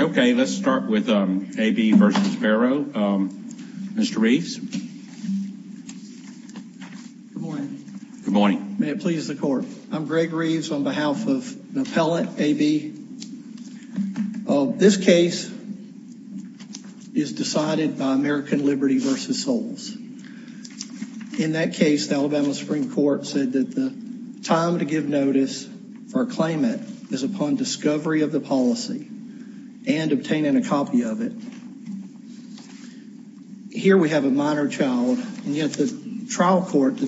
Okay, let's start with A.B. v. Barrow. Mr. Reeves. Good morning. May it please the court. I'm Greg Reeves on behalf of an appellate, A.B. v. Barrow. This case is decided by American Liberty v. Soles. In that case, the Alabama Supreme Court said that the time to give notice or claim it is upon discovery of the policy and obtaining a copy of it. Here we have a minor child, and yet the trial court, the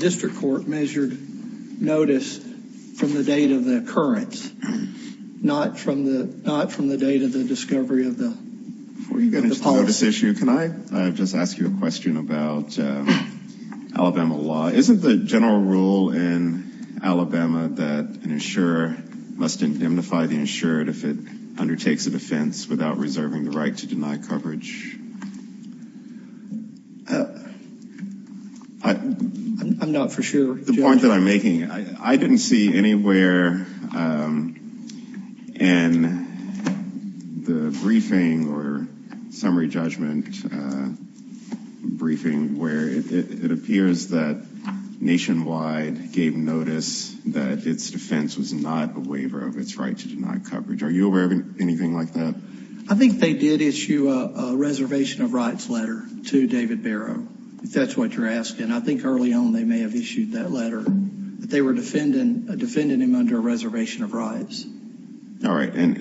from the date of the discovery of the policy. Before you get into the notice issue, can I just ask you a question about Alabama law? Isn't the general rule in Alabama that an insurer must indemnify the insured if it undertakes a defense without reserving the right to deny coverage? I'm not for sure, Judge. The point that I'm making, I didn't see anywhere in the briefing or summary judgment briefing where it appears that Nationwide gave notice that its defense was not a waiver of its right to deny coverage. Are you aware of anything like that? I think they did issue a reservation of rights letter to David Barrow, if that's what you're All right. And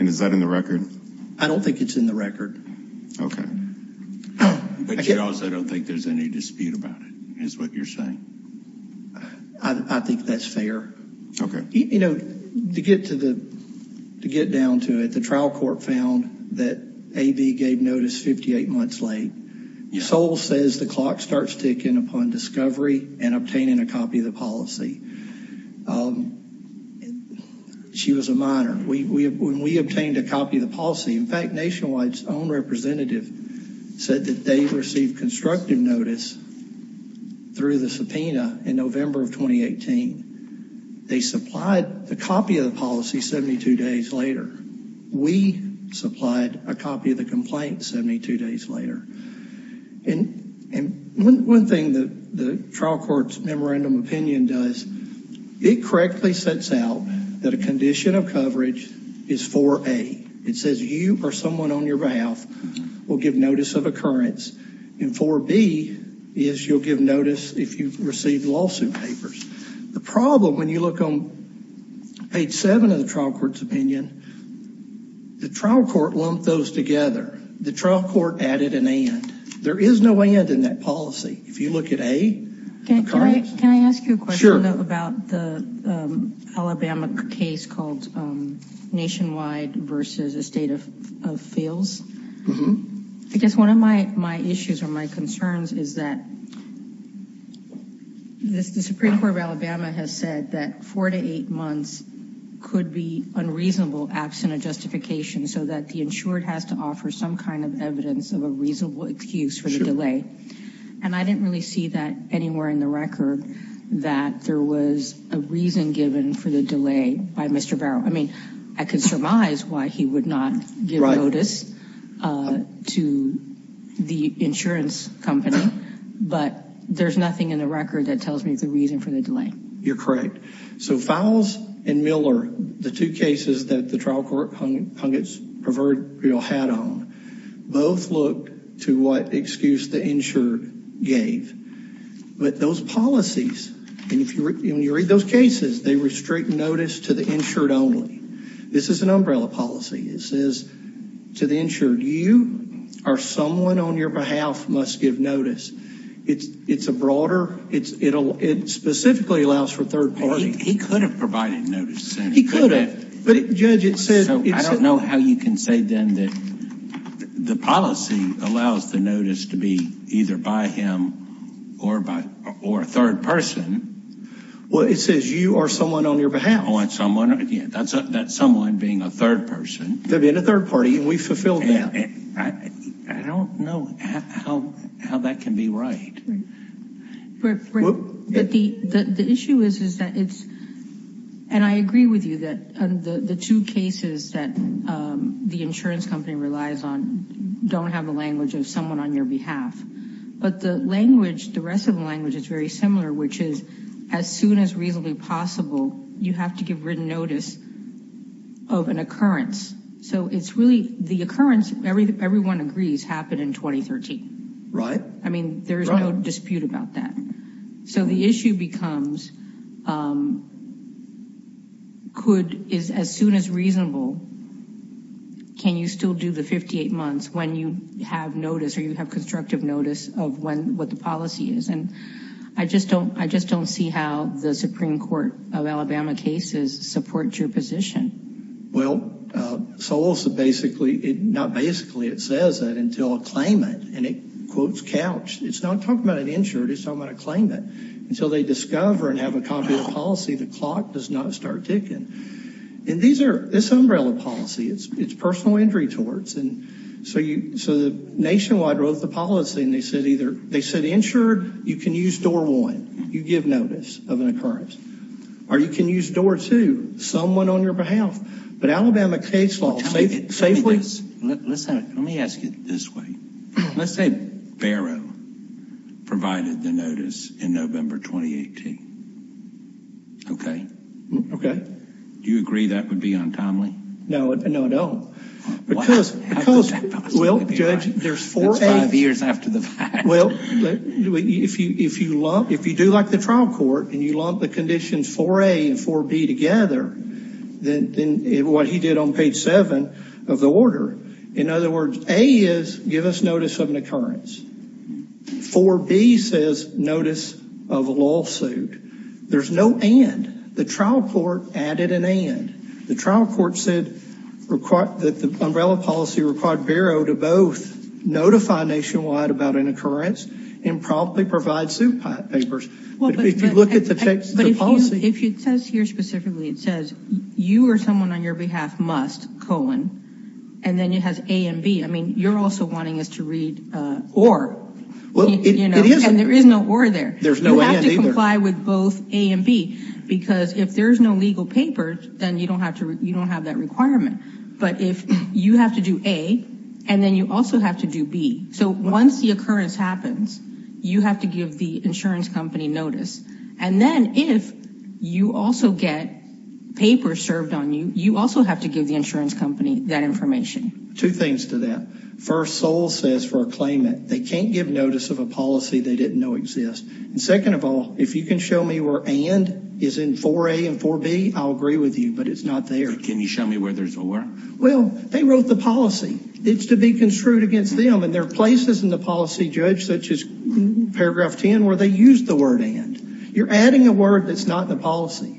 is that in the record? I don't think it's in the record. Okay. But you also don't think there's any dispute about it, is what you're saying? I think that's fair. Okay. You know, to get down to it, the trial court found that AB gave notice 58 months late. Sol says the clock starts ticking upon discovery and obtaining a copy of the policy. She was a minor. When we obtained a copy of the policy, in fact, Nationwide's own representative said that they received constructive notice through the subpoena in November of 2018. They supplied the copy of the policy 72 days later. We supplied a copy of the complaint 72 days later. And one thing that the trial court's memorandum of opinion does, it correctly sets out that a condition of coverage is 4A. It says you or someone on your behalf will give notice of occurrence. And 4B is you'll give notice if you've received lawsuit papers. The problem, when you look on page 7 of the trial court's opinion, the trial court lumped those together. The trial court added an and. There is no and in that policy. If you look at A, occurrence. Can I ask you a question about the Alabama case called Nationwide v. Estate of Fields? I guess one of my my issues or my concerns is that the Supreme Court of Alabama has said that four to eight months could be unreasonable absent a justification so that the insured has to offer some kind of evidence of a reasonable excuse for the delay. And I didn't really see that anywhere in the record that there was a reason given for the delay by Mr. Barrow. I mean, I could surmise why he would not give notice to the insurance company, but there's nothing in the record that tells me the reason for the delay. You're correct. So Fowles and Miller, the two cases that the trial court hung its proverbial hat on, both looked to what excuse the insured gave. But those policies, and if you read those cases, they restrict notice to the insured only. This is an umbrella policy. It says to the insured, you are someone on your behalf must give notice. It's it's a broader it's it'll it specifically allows for third party. He could have provided notice. He could have. But judge, it said I don't know how you can say then that the policy allows the notice to be either by him or by or a third person. Well, it says you are someone on your behalf on someone. That's that's someone being a third person to be in a third party. And we fulfilled that. I don't know how that can be right. But the issue is, is that it's and I agree with you that the two cases that the insurance company relies on don't have the language of someone on your behalf. But the language, the rest of the language is very similar, which is as soon as reasonably possible, you have to give written notice of an occurrence. So it's really the occurrence. Everyone agrees happened in 2013. Right. I mean, there's no dispute about that. So the issue becomes could is as soon as reasonable. Can you still do the 58 months when you have notice or you have constructive notice of when what the policy is? And I just don't I just don't see how the Supreme Court of Alabama cases support your position. Well, so also basically it not basically it says that until a claimant and it quotes couch. It's not talking about an insured. It's not going to claim it until they discover and have a copy of the policy. The clock does not start ticking. And these are this umbrella policy. It's it's personal injury towards. And so you so the nationwide wrote the policy and they said either they said insured. You can use door one. You give notice of an occurrence or you can use door to someone on your behalf. But Alabama case law. Let me ask you this way. Let's say Barrow provided the notice in November 2018. OK. OK. Do you agree that would be untimely? No. No, I don't. Because, well, judge, there's four years after the fact. Well, if you if you love if you do like the trial court and you love the conditions for a and for B together, then what he did on page seven of the order. In other words, A is give us notice of an occurrence for B says notice of a lawsuit. There's no and the trial court added an and the trial court said required that the umbrella policy required Barrow to both notify nationwide about an occurrence and probably provide suit papers. Well, if you look at the text, the policy, if it says here specifically, it says you or someone on your behalf must colon. And then it has a and B. I mean, you're also wanting us to read or, you know, and there is no war there. There's no way to comply with both A and B, because if there is no legal paper, then you don't have to. You don't have that requirement. But if you have to do a and then you also have to do B. So once the occurrence happens, you have to give the insurance company notice. And then if you also get paper served on you, you also have to give the insurance company that information. Two things to that first soul says for a claimant, they can't give notice of a policy they didn't know exist. And second of all, if you can show me where and is in for a and for B, I'll agree with you. But it's not there. Can you show me where there's a war? Well, they wrote the policy. It's to be construed against them. And there are places in the policy judge, such as paragraph 10, where they use the word and you're adding a word that's not the policy.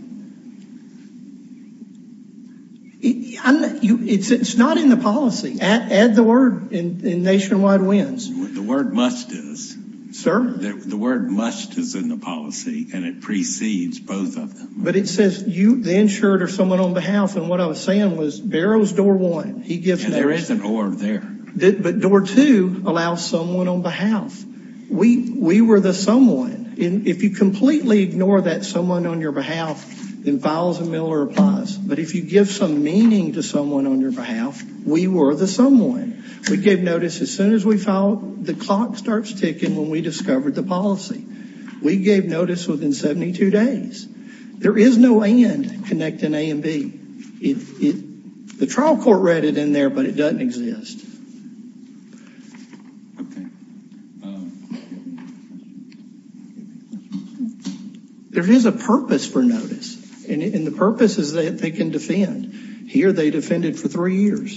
It's not in the policy. Add the word and Nationwide wins. The word must is. Sir. The word must is in the policy and it precedes both of them. But it says you the insured or someone on behalf. And what I was saying was Barrow's door one. He gives there is an order there, but door to allow someone on behalf. We were the someone in. If you completely ignore that someone on your behalf, then files and Miller applies. But if you give some meaning to someone on your behalf, we were the someone. We gave notice as soon as we found the clock starts ticking. When we discovered the policy, we gave notice within 72 days. There is no end connecting A and B. The trial court read it in there, but it doesn't exist. There is a purpose for notice. And the purpose is that they can defend. Here they defended for three years.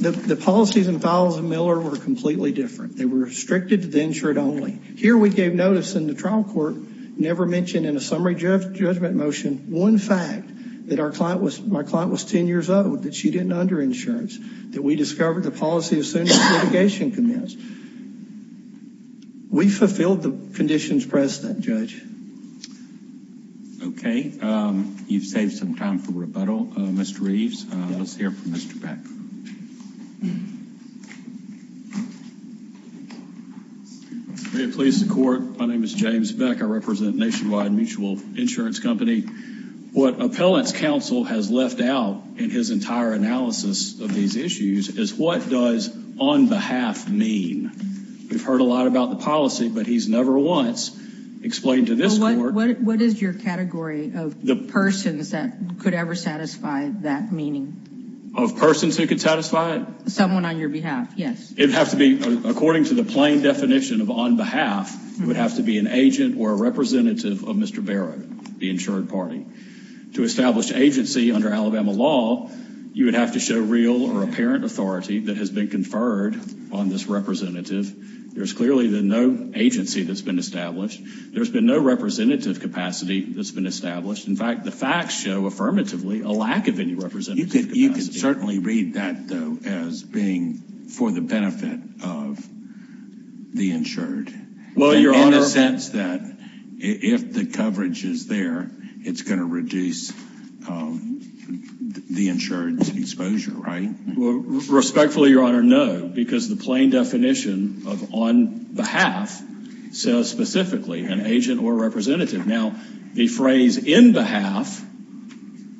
The policies and files of Miller were completely different. They were restricted to the insured only. Here we gave notice in the trial court, never mentioned in a summary judgment motion. One fact that our client was my client was 10 years old, that she didn't under insurance, that we discovered the policy as soon as litigation commenced. We fulfilled the conditions president judge. OK, you've saved some time for rebuttal. Mr Reeves, let's hear from Mr. My name is James Beck. I represent Nationwide Mutual Insurance Company. What appellants counsel has left out in his entire analysis of these issues is what does on behalf mean? We've heard a lot about the policy, but he's never once explained to this court. What is your category of the persons that could ever satisfy that meaning of persons who could satisfy someone on your behalf? Yes, it would have to be according to the plain definition of on behalf. You would have to be an agent or a representative of Mr. Barrow, the insured party to establish agency under Alabama law. You would have to show real or apparent authority that has been conferred on this representative. There's clearly the no agency that's been established. There's been no representative capacity that's been established. In fact, the facts show affirmatively a lack of any representative. You could certainly read that, though, as being for the benefit of the insured. Well, Your Honor. In the sense that if the coverage is there, it's going to reduce the insured's exposure, right? Respectfully, Your Honor, no, because the plain definition of on behalf says specifically an agent or representative. Now, the phrase in behalf,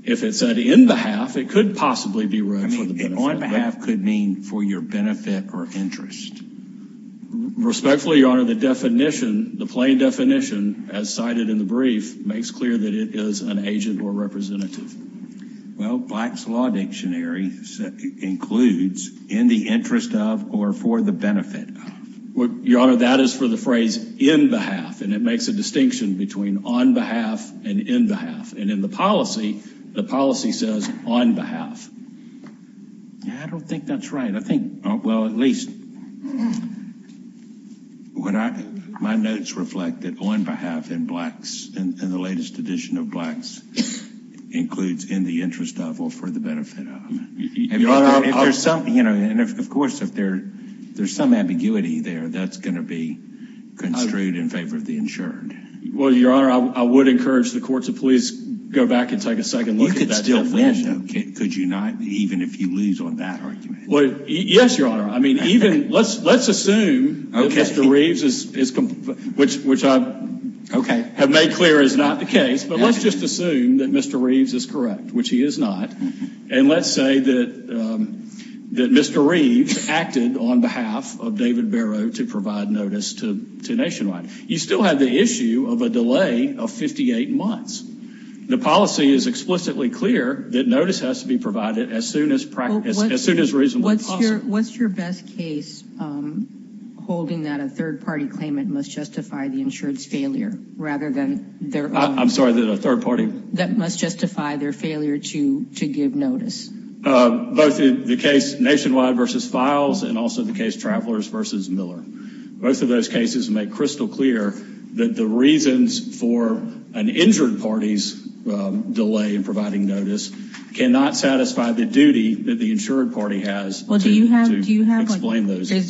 if it said in behalf, it could possibly be read for the benefit. I mean, on behalf could mean for your benefit or interest. Respectfully, Your Honor, the definition, the plain definition, as cited in the brief, makes clear that it is an agent or representative. Well, Black's Law Dictionary includes in the interest of or for the benefit of. Your Honor, that is for the phrase in behalf, and it makes a distinction between on behalf and in behalf. And in the policy, the policy says on behalf. I don't think that's right. I think, well, at least. My notes reflect that on behalf in the latest edition of Black's includes in the interest of or for the benefit of. Your Honor, if there's something, you know, and of course, if there's some ambiguity there, that's going to be construed in favor of the insured. Well, Your Honor, I would encourage the court to please go back and take a second look at that definition. You could still win, though, could you not? Even if you lose on that argument. Well, yes, Your Honor. I mean, even, let's assume that Mr. Reeves is, which I have made clear is not the case, but let's just assume that Mr. Reeves is correct, which he is not. And let's say that Mr. Reeves acted on behalf of David Barrow to provide notice to Nationwide. You still have the issue of a delay of 58 months. The policy is explicitly clear that notice has to be provided as soon as as soon as reasonably possible. What's your best case holding that a third party claimant must justify the insured's failure rather than their own? I'm sorry, the third party? That must justify their failure to give notice. Both the case Nationwide versus Files and also the case Travelers versus Miller. Both of those cases make crystal clear that the reasons for an injured party's delay in providing notice cannot satisfy the duty that the insured party has to explain those. The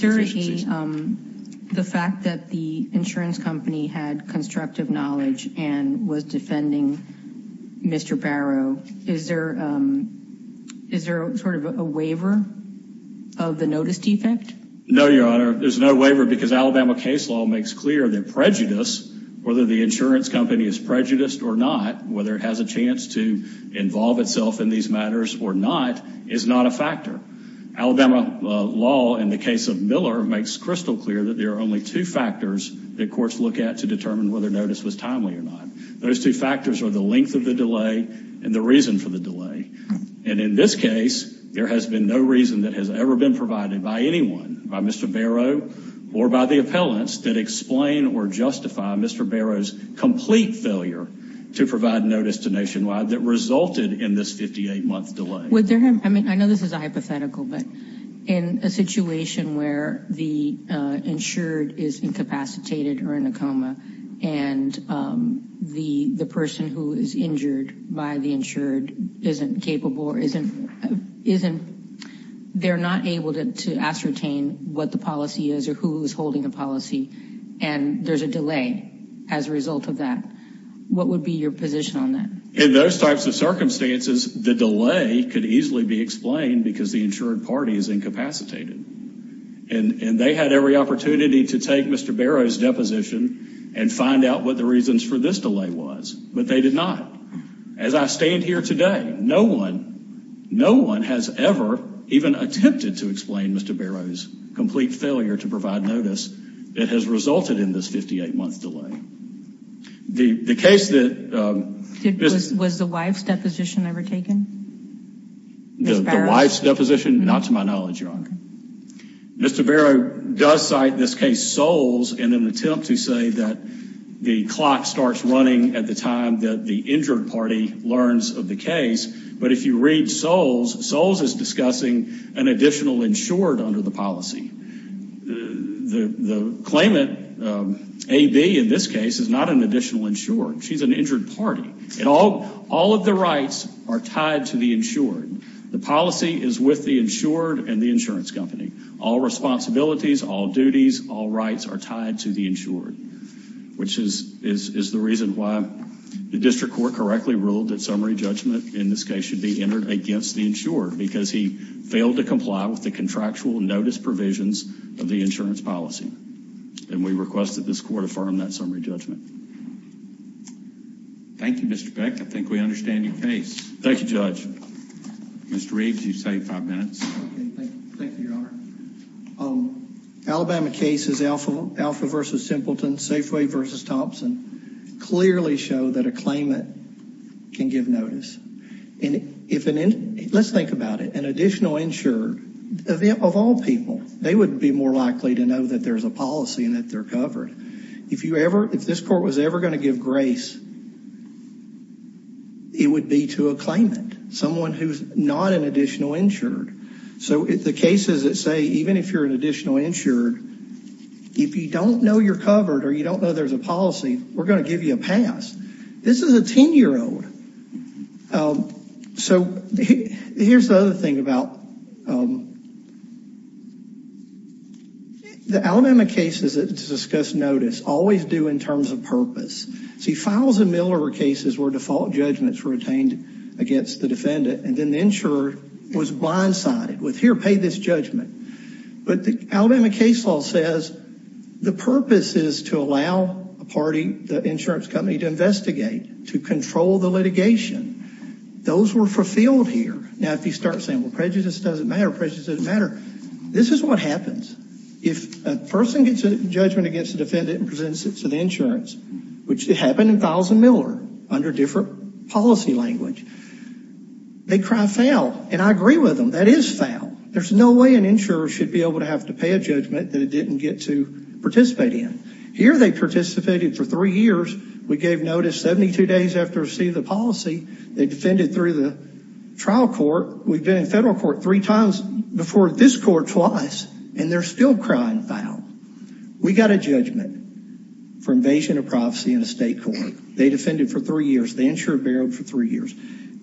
fact that the insurance company had constructive knowledge and was defending Mr. Barrow, is there sort of a waiver of the notice defect? No, Your Honor. There's no waiver because Alabama case law makes clear that prejudice, whether the insurance company is prejudiced or not, whether it has a chance to involve itself in these matters or not, is not a factor. Alabama law in the case of Miller makes crystal clear that there are only two factors that courts look at to determine whether notice was timely or not. Those two factors are the length of the delay and the reason for the delay. And in this case, there has been no reason that has ever been provided by anyone, by Mr. Barrow or by the appellants, that explain or justify Mr. Barrow's complete failure to provide notice to Nationwide that resulted in this 58-month delay. I know this is a hypothetical, but in a situation where the insured is incapacitated or in a coma and the person who is injured by the insured isn't capable or isn't, they're not able to ascertain what the policy is or who is holding the policy and there's a delay as a result of that. What would be your position on that? In those types of circumstances, the delay could easily be explained because the insured party is incapacitated. And they had every opportunity to take Mr. Barrow's deposition and find out what the reasons for this delay was, but they did not. As I stand here today, no one, no one has ever even attempted to explain Mr. Barrow's complete failure to provide notice that has resulted in this 58-month delay. The case that... Was the wife's deposition ever taken? The wife's deposition? Not to my knowledge, Your Honor. Mr. Barrow does cite this case Soles in an attempt to say that the clock starts running at the time that the injured party learns of the case, but if you read Soles, Soles is discussing an additional insured under the policy. The claimant, A.B. in this case, is not an additional insured. She's an injured party and all of the rights are tied to the insured. The policy is with the insured and the insurance company. All responsibilities, all duties, all rights are tied to the insured, which is the reason why the district court correctly ruled that summary judgment in this case should be entered against the insured because he failed to comply with the contractual notice provisions of the insurance policy. And we request that this court affirm that summary judgment. Thank you, Mr. Beck. I think we understand your case. Thank you, Judge. Mr. Reeves, you've saved five minutes. Thank you, Your Honor. Alabama cases, Alpha v. Simpleton, Safeway v. Thompson, clearly show that a claimant can give notice. Let's think about it. An additional insured, of all people, they would be more likely to know that there's a policy and that they're covered. If this court was ever going to give grace, it would be to a claimant, someone who's not an additional insured. So the cases that say even if you're an additional insured, if you don't know you're covered or you don't know there's a policy, we're going to give you a pass. This is a 10-year-old. So here's the other thing about the Alabama cases that discuss notice, always do in terms of purpose. See, Files and Miller cases where default judgments were obtained against the defendant and then the insurer was blindsided with, here, pay this judgment. But the Alabama case law says the purpose is to allow a party, the insurance company, to investigate, to control the litigation. Those were fulfilled here. Now, if you start saying, well, prejudice doesn't matter, prejudice doesn't matter, this is what happens. If a person gets a judgment against a defendant and presents it to the insurance, which it happened in Files and Miller under different policy language, they cry foul. And I agree with them. That is foul. There's no way an insurer should be able to have to pay a judgment that it didn't get to participate in. Here, they participated for three years. We gave notice 72 days after receiving the policy. They defended through the trial court. We've been in federal court three times before this court twice, and they're still crying foul. We got a judgment for invasion of prophecy in a state court. They defended for three years. The insurer barreled for three years.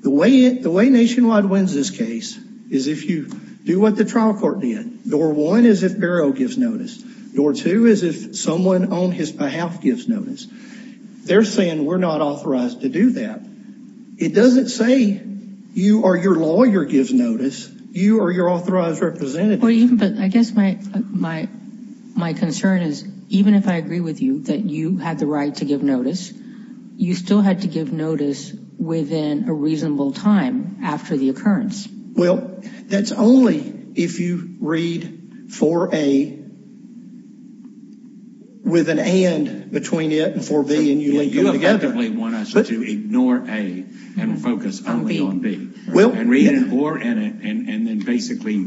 The way Nationwide wins this case is if you do what the trial court did. Door one is if Barrow gives notice. Door two is if someone on his behalf gives notice. They're saying we're not authorized to do that. It doesn't say you or your lawyer gives notice. You or your authorized representative. But I guess my concern is even if I agree with you that you had the right to give notice, you still had to give notice within a reasonable time after the occurrence. Well, that's only if you read 4A with an and between it and 4B and you link them together. You effectively want us to ignore A and focus only on B. And read an or and then basically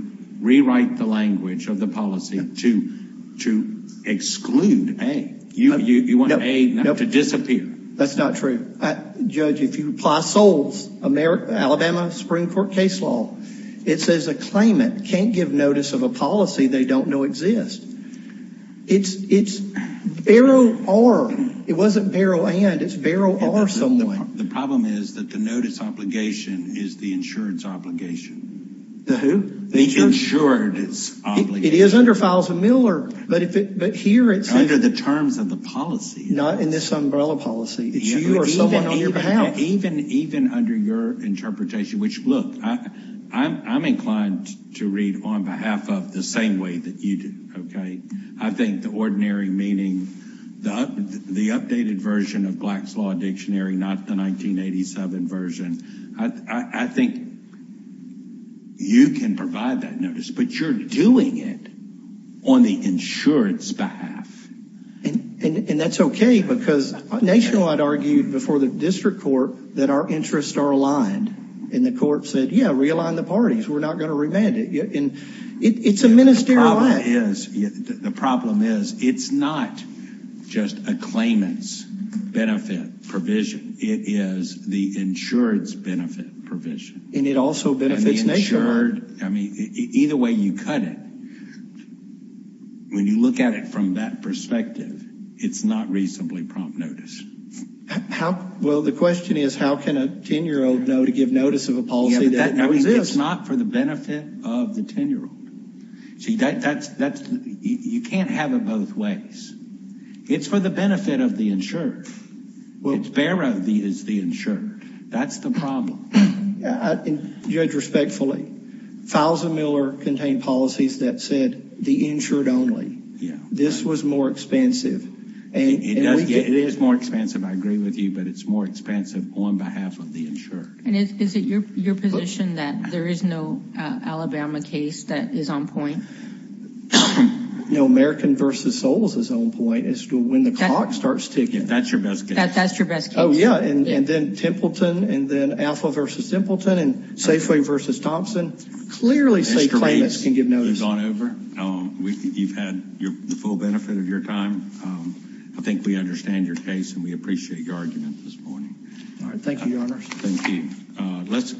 rewrite the language of the policy to exclude A. You want A to disappear. That's not true. Judge, if you apply Soles, Alabama Supreme Court case law, it says a claimant can't give notice of a policy they don't know exists. It's Barrow or. It wasn't Barrow and. It's Barrow or someone. The problem is that the notice obligation is the insurance obligation. The who? The insurance obligation. It is under files of Miller. But here it's. Under the terms of the policy. Not in this umbrella policy. It's you or someone on your behalf. Even under your interpretation, which, look, I'm inclined to read on behalf of the same way that you do. Okay. I think the ordinary meaning, the updated version of Black's Law Dictionary, not the 1987 version. I think. You can provide that notice, but you're doing it on the insurance behalf. And that's okay, because Nationwide argued before the district court that our interests are aligned. And the court said, yeah, realign the parties. We're not going to remand it. And it's a ministerial act. The problem is it's not just a claimant's benefit provision. It is the insured's benefit provision. And it also benefits Nationwide. I mean, either way you cut it, when you look at it from that perspective, it's not reasonably prompt notice. Well, the question is, how can a 10-year-old know to give notice of a policy? It's not for the benefit of the 10-year-old. See, you can't have it both ways. It's for the benefit of the insured. It's better if it's the insured. That's the problem. Judge, respectfully, Fousa-Miller contained policies that said the insured only. Yeah. This was more expansive. It is more expansive, I agree with you, but it's more expansive on behalf of the insured. And is it your position that there is no Alabama case that is on point? No. American v. Solis is on point. It's when the clock starts ticking. That's your best guess. That's your best guess. Oh, yeah. And then Templeton and then Alpha v. Templeton and Safeway v. Thompson clearly say claimants can give notice. Mr. Reeves, you've gone over. You've had the full benefit of your time. I think we understand your case and we appreciate your argument this morning. All right. Thank you, Your Honors. Thank you. Let's.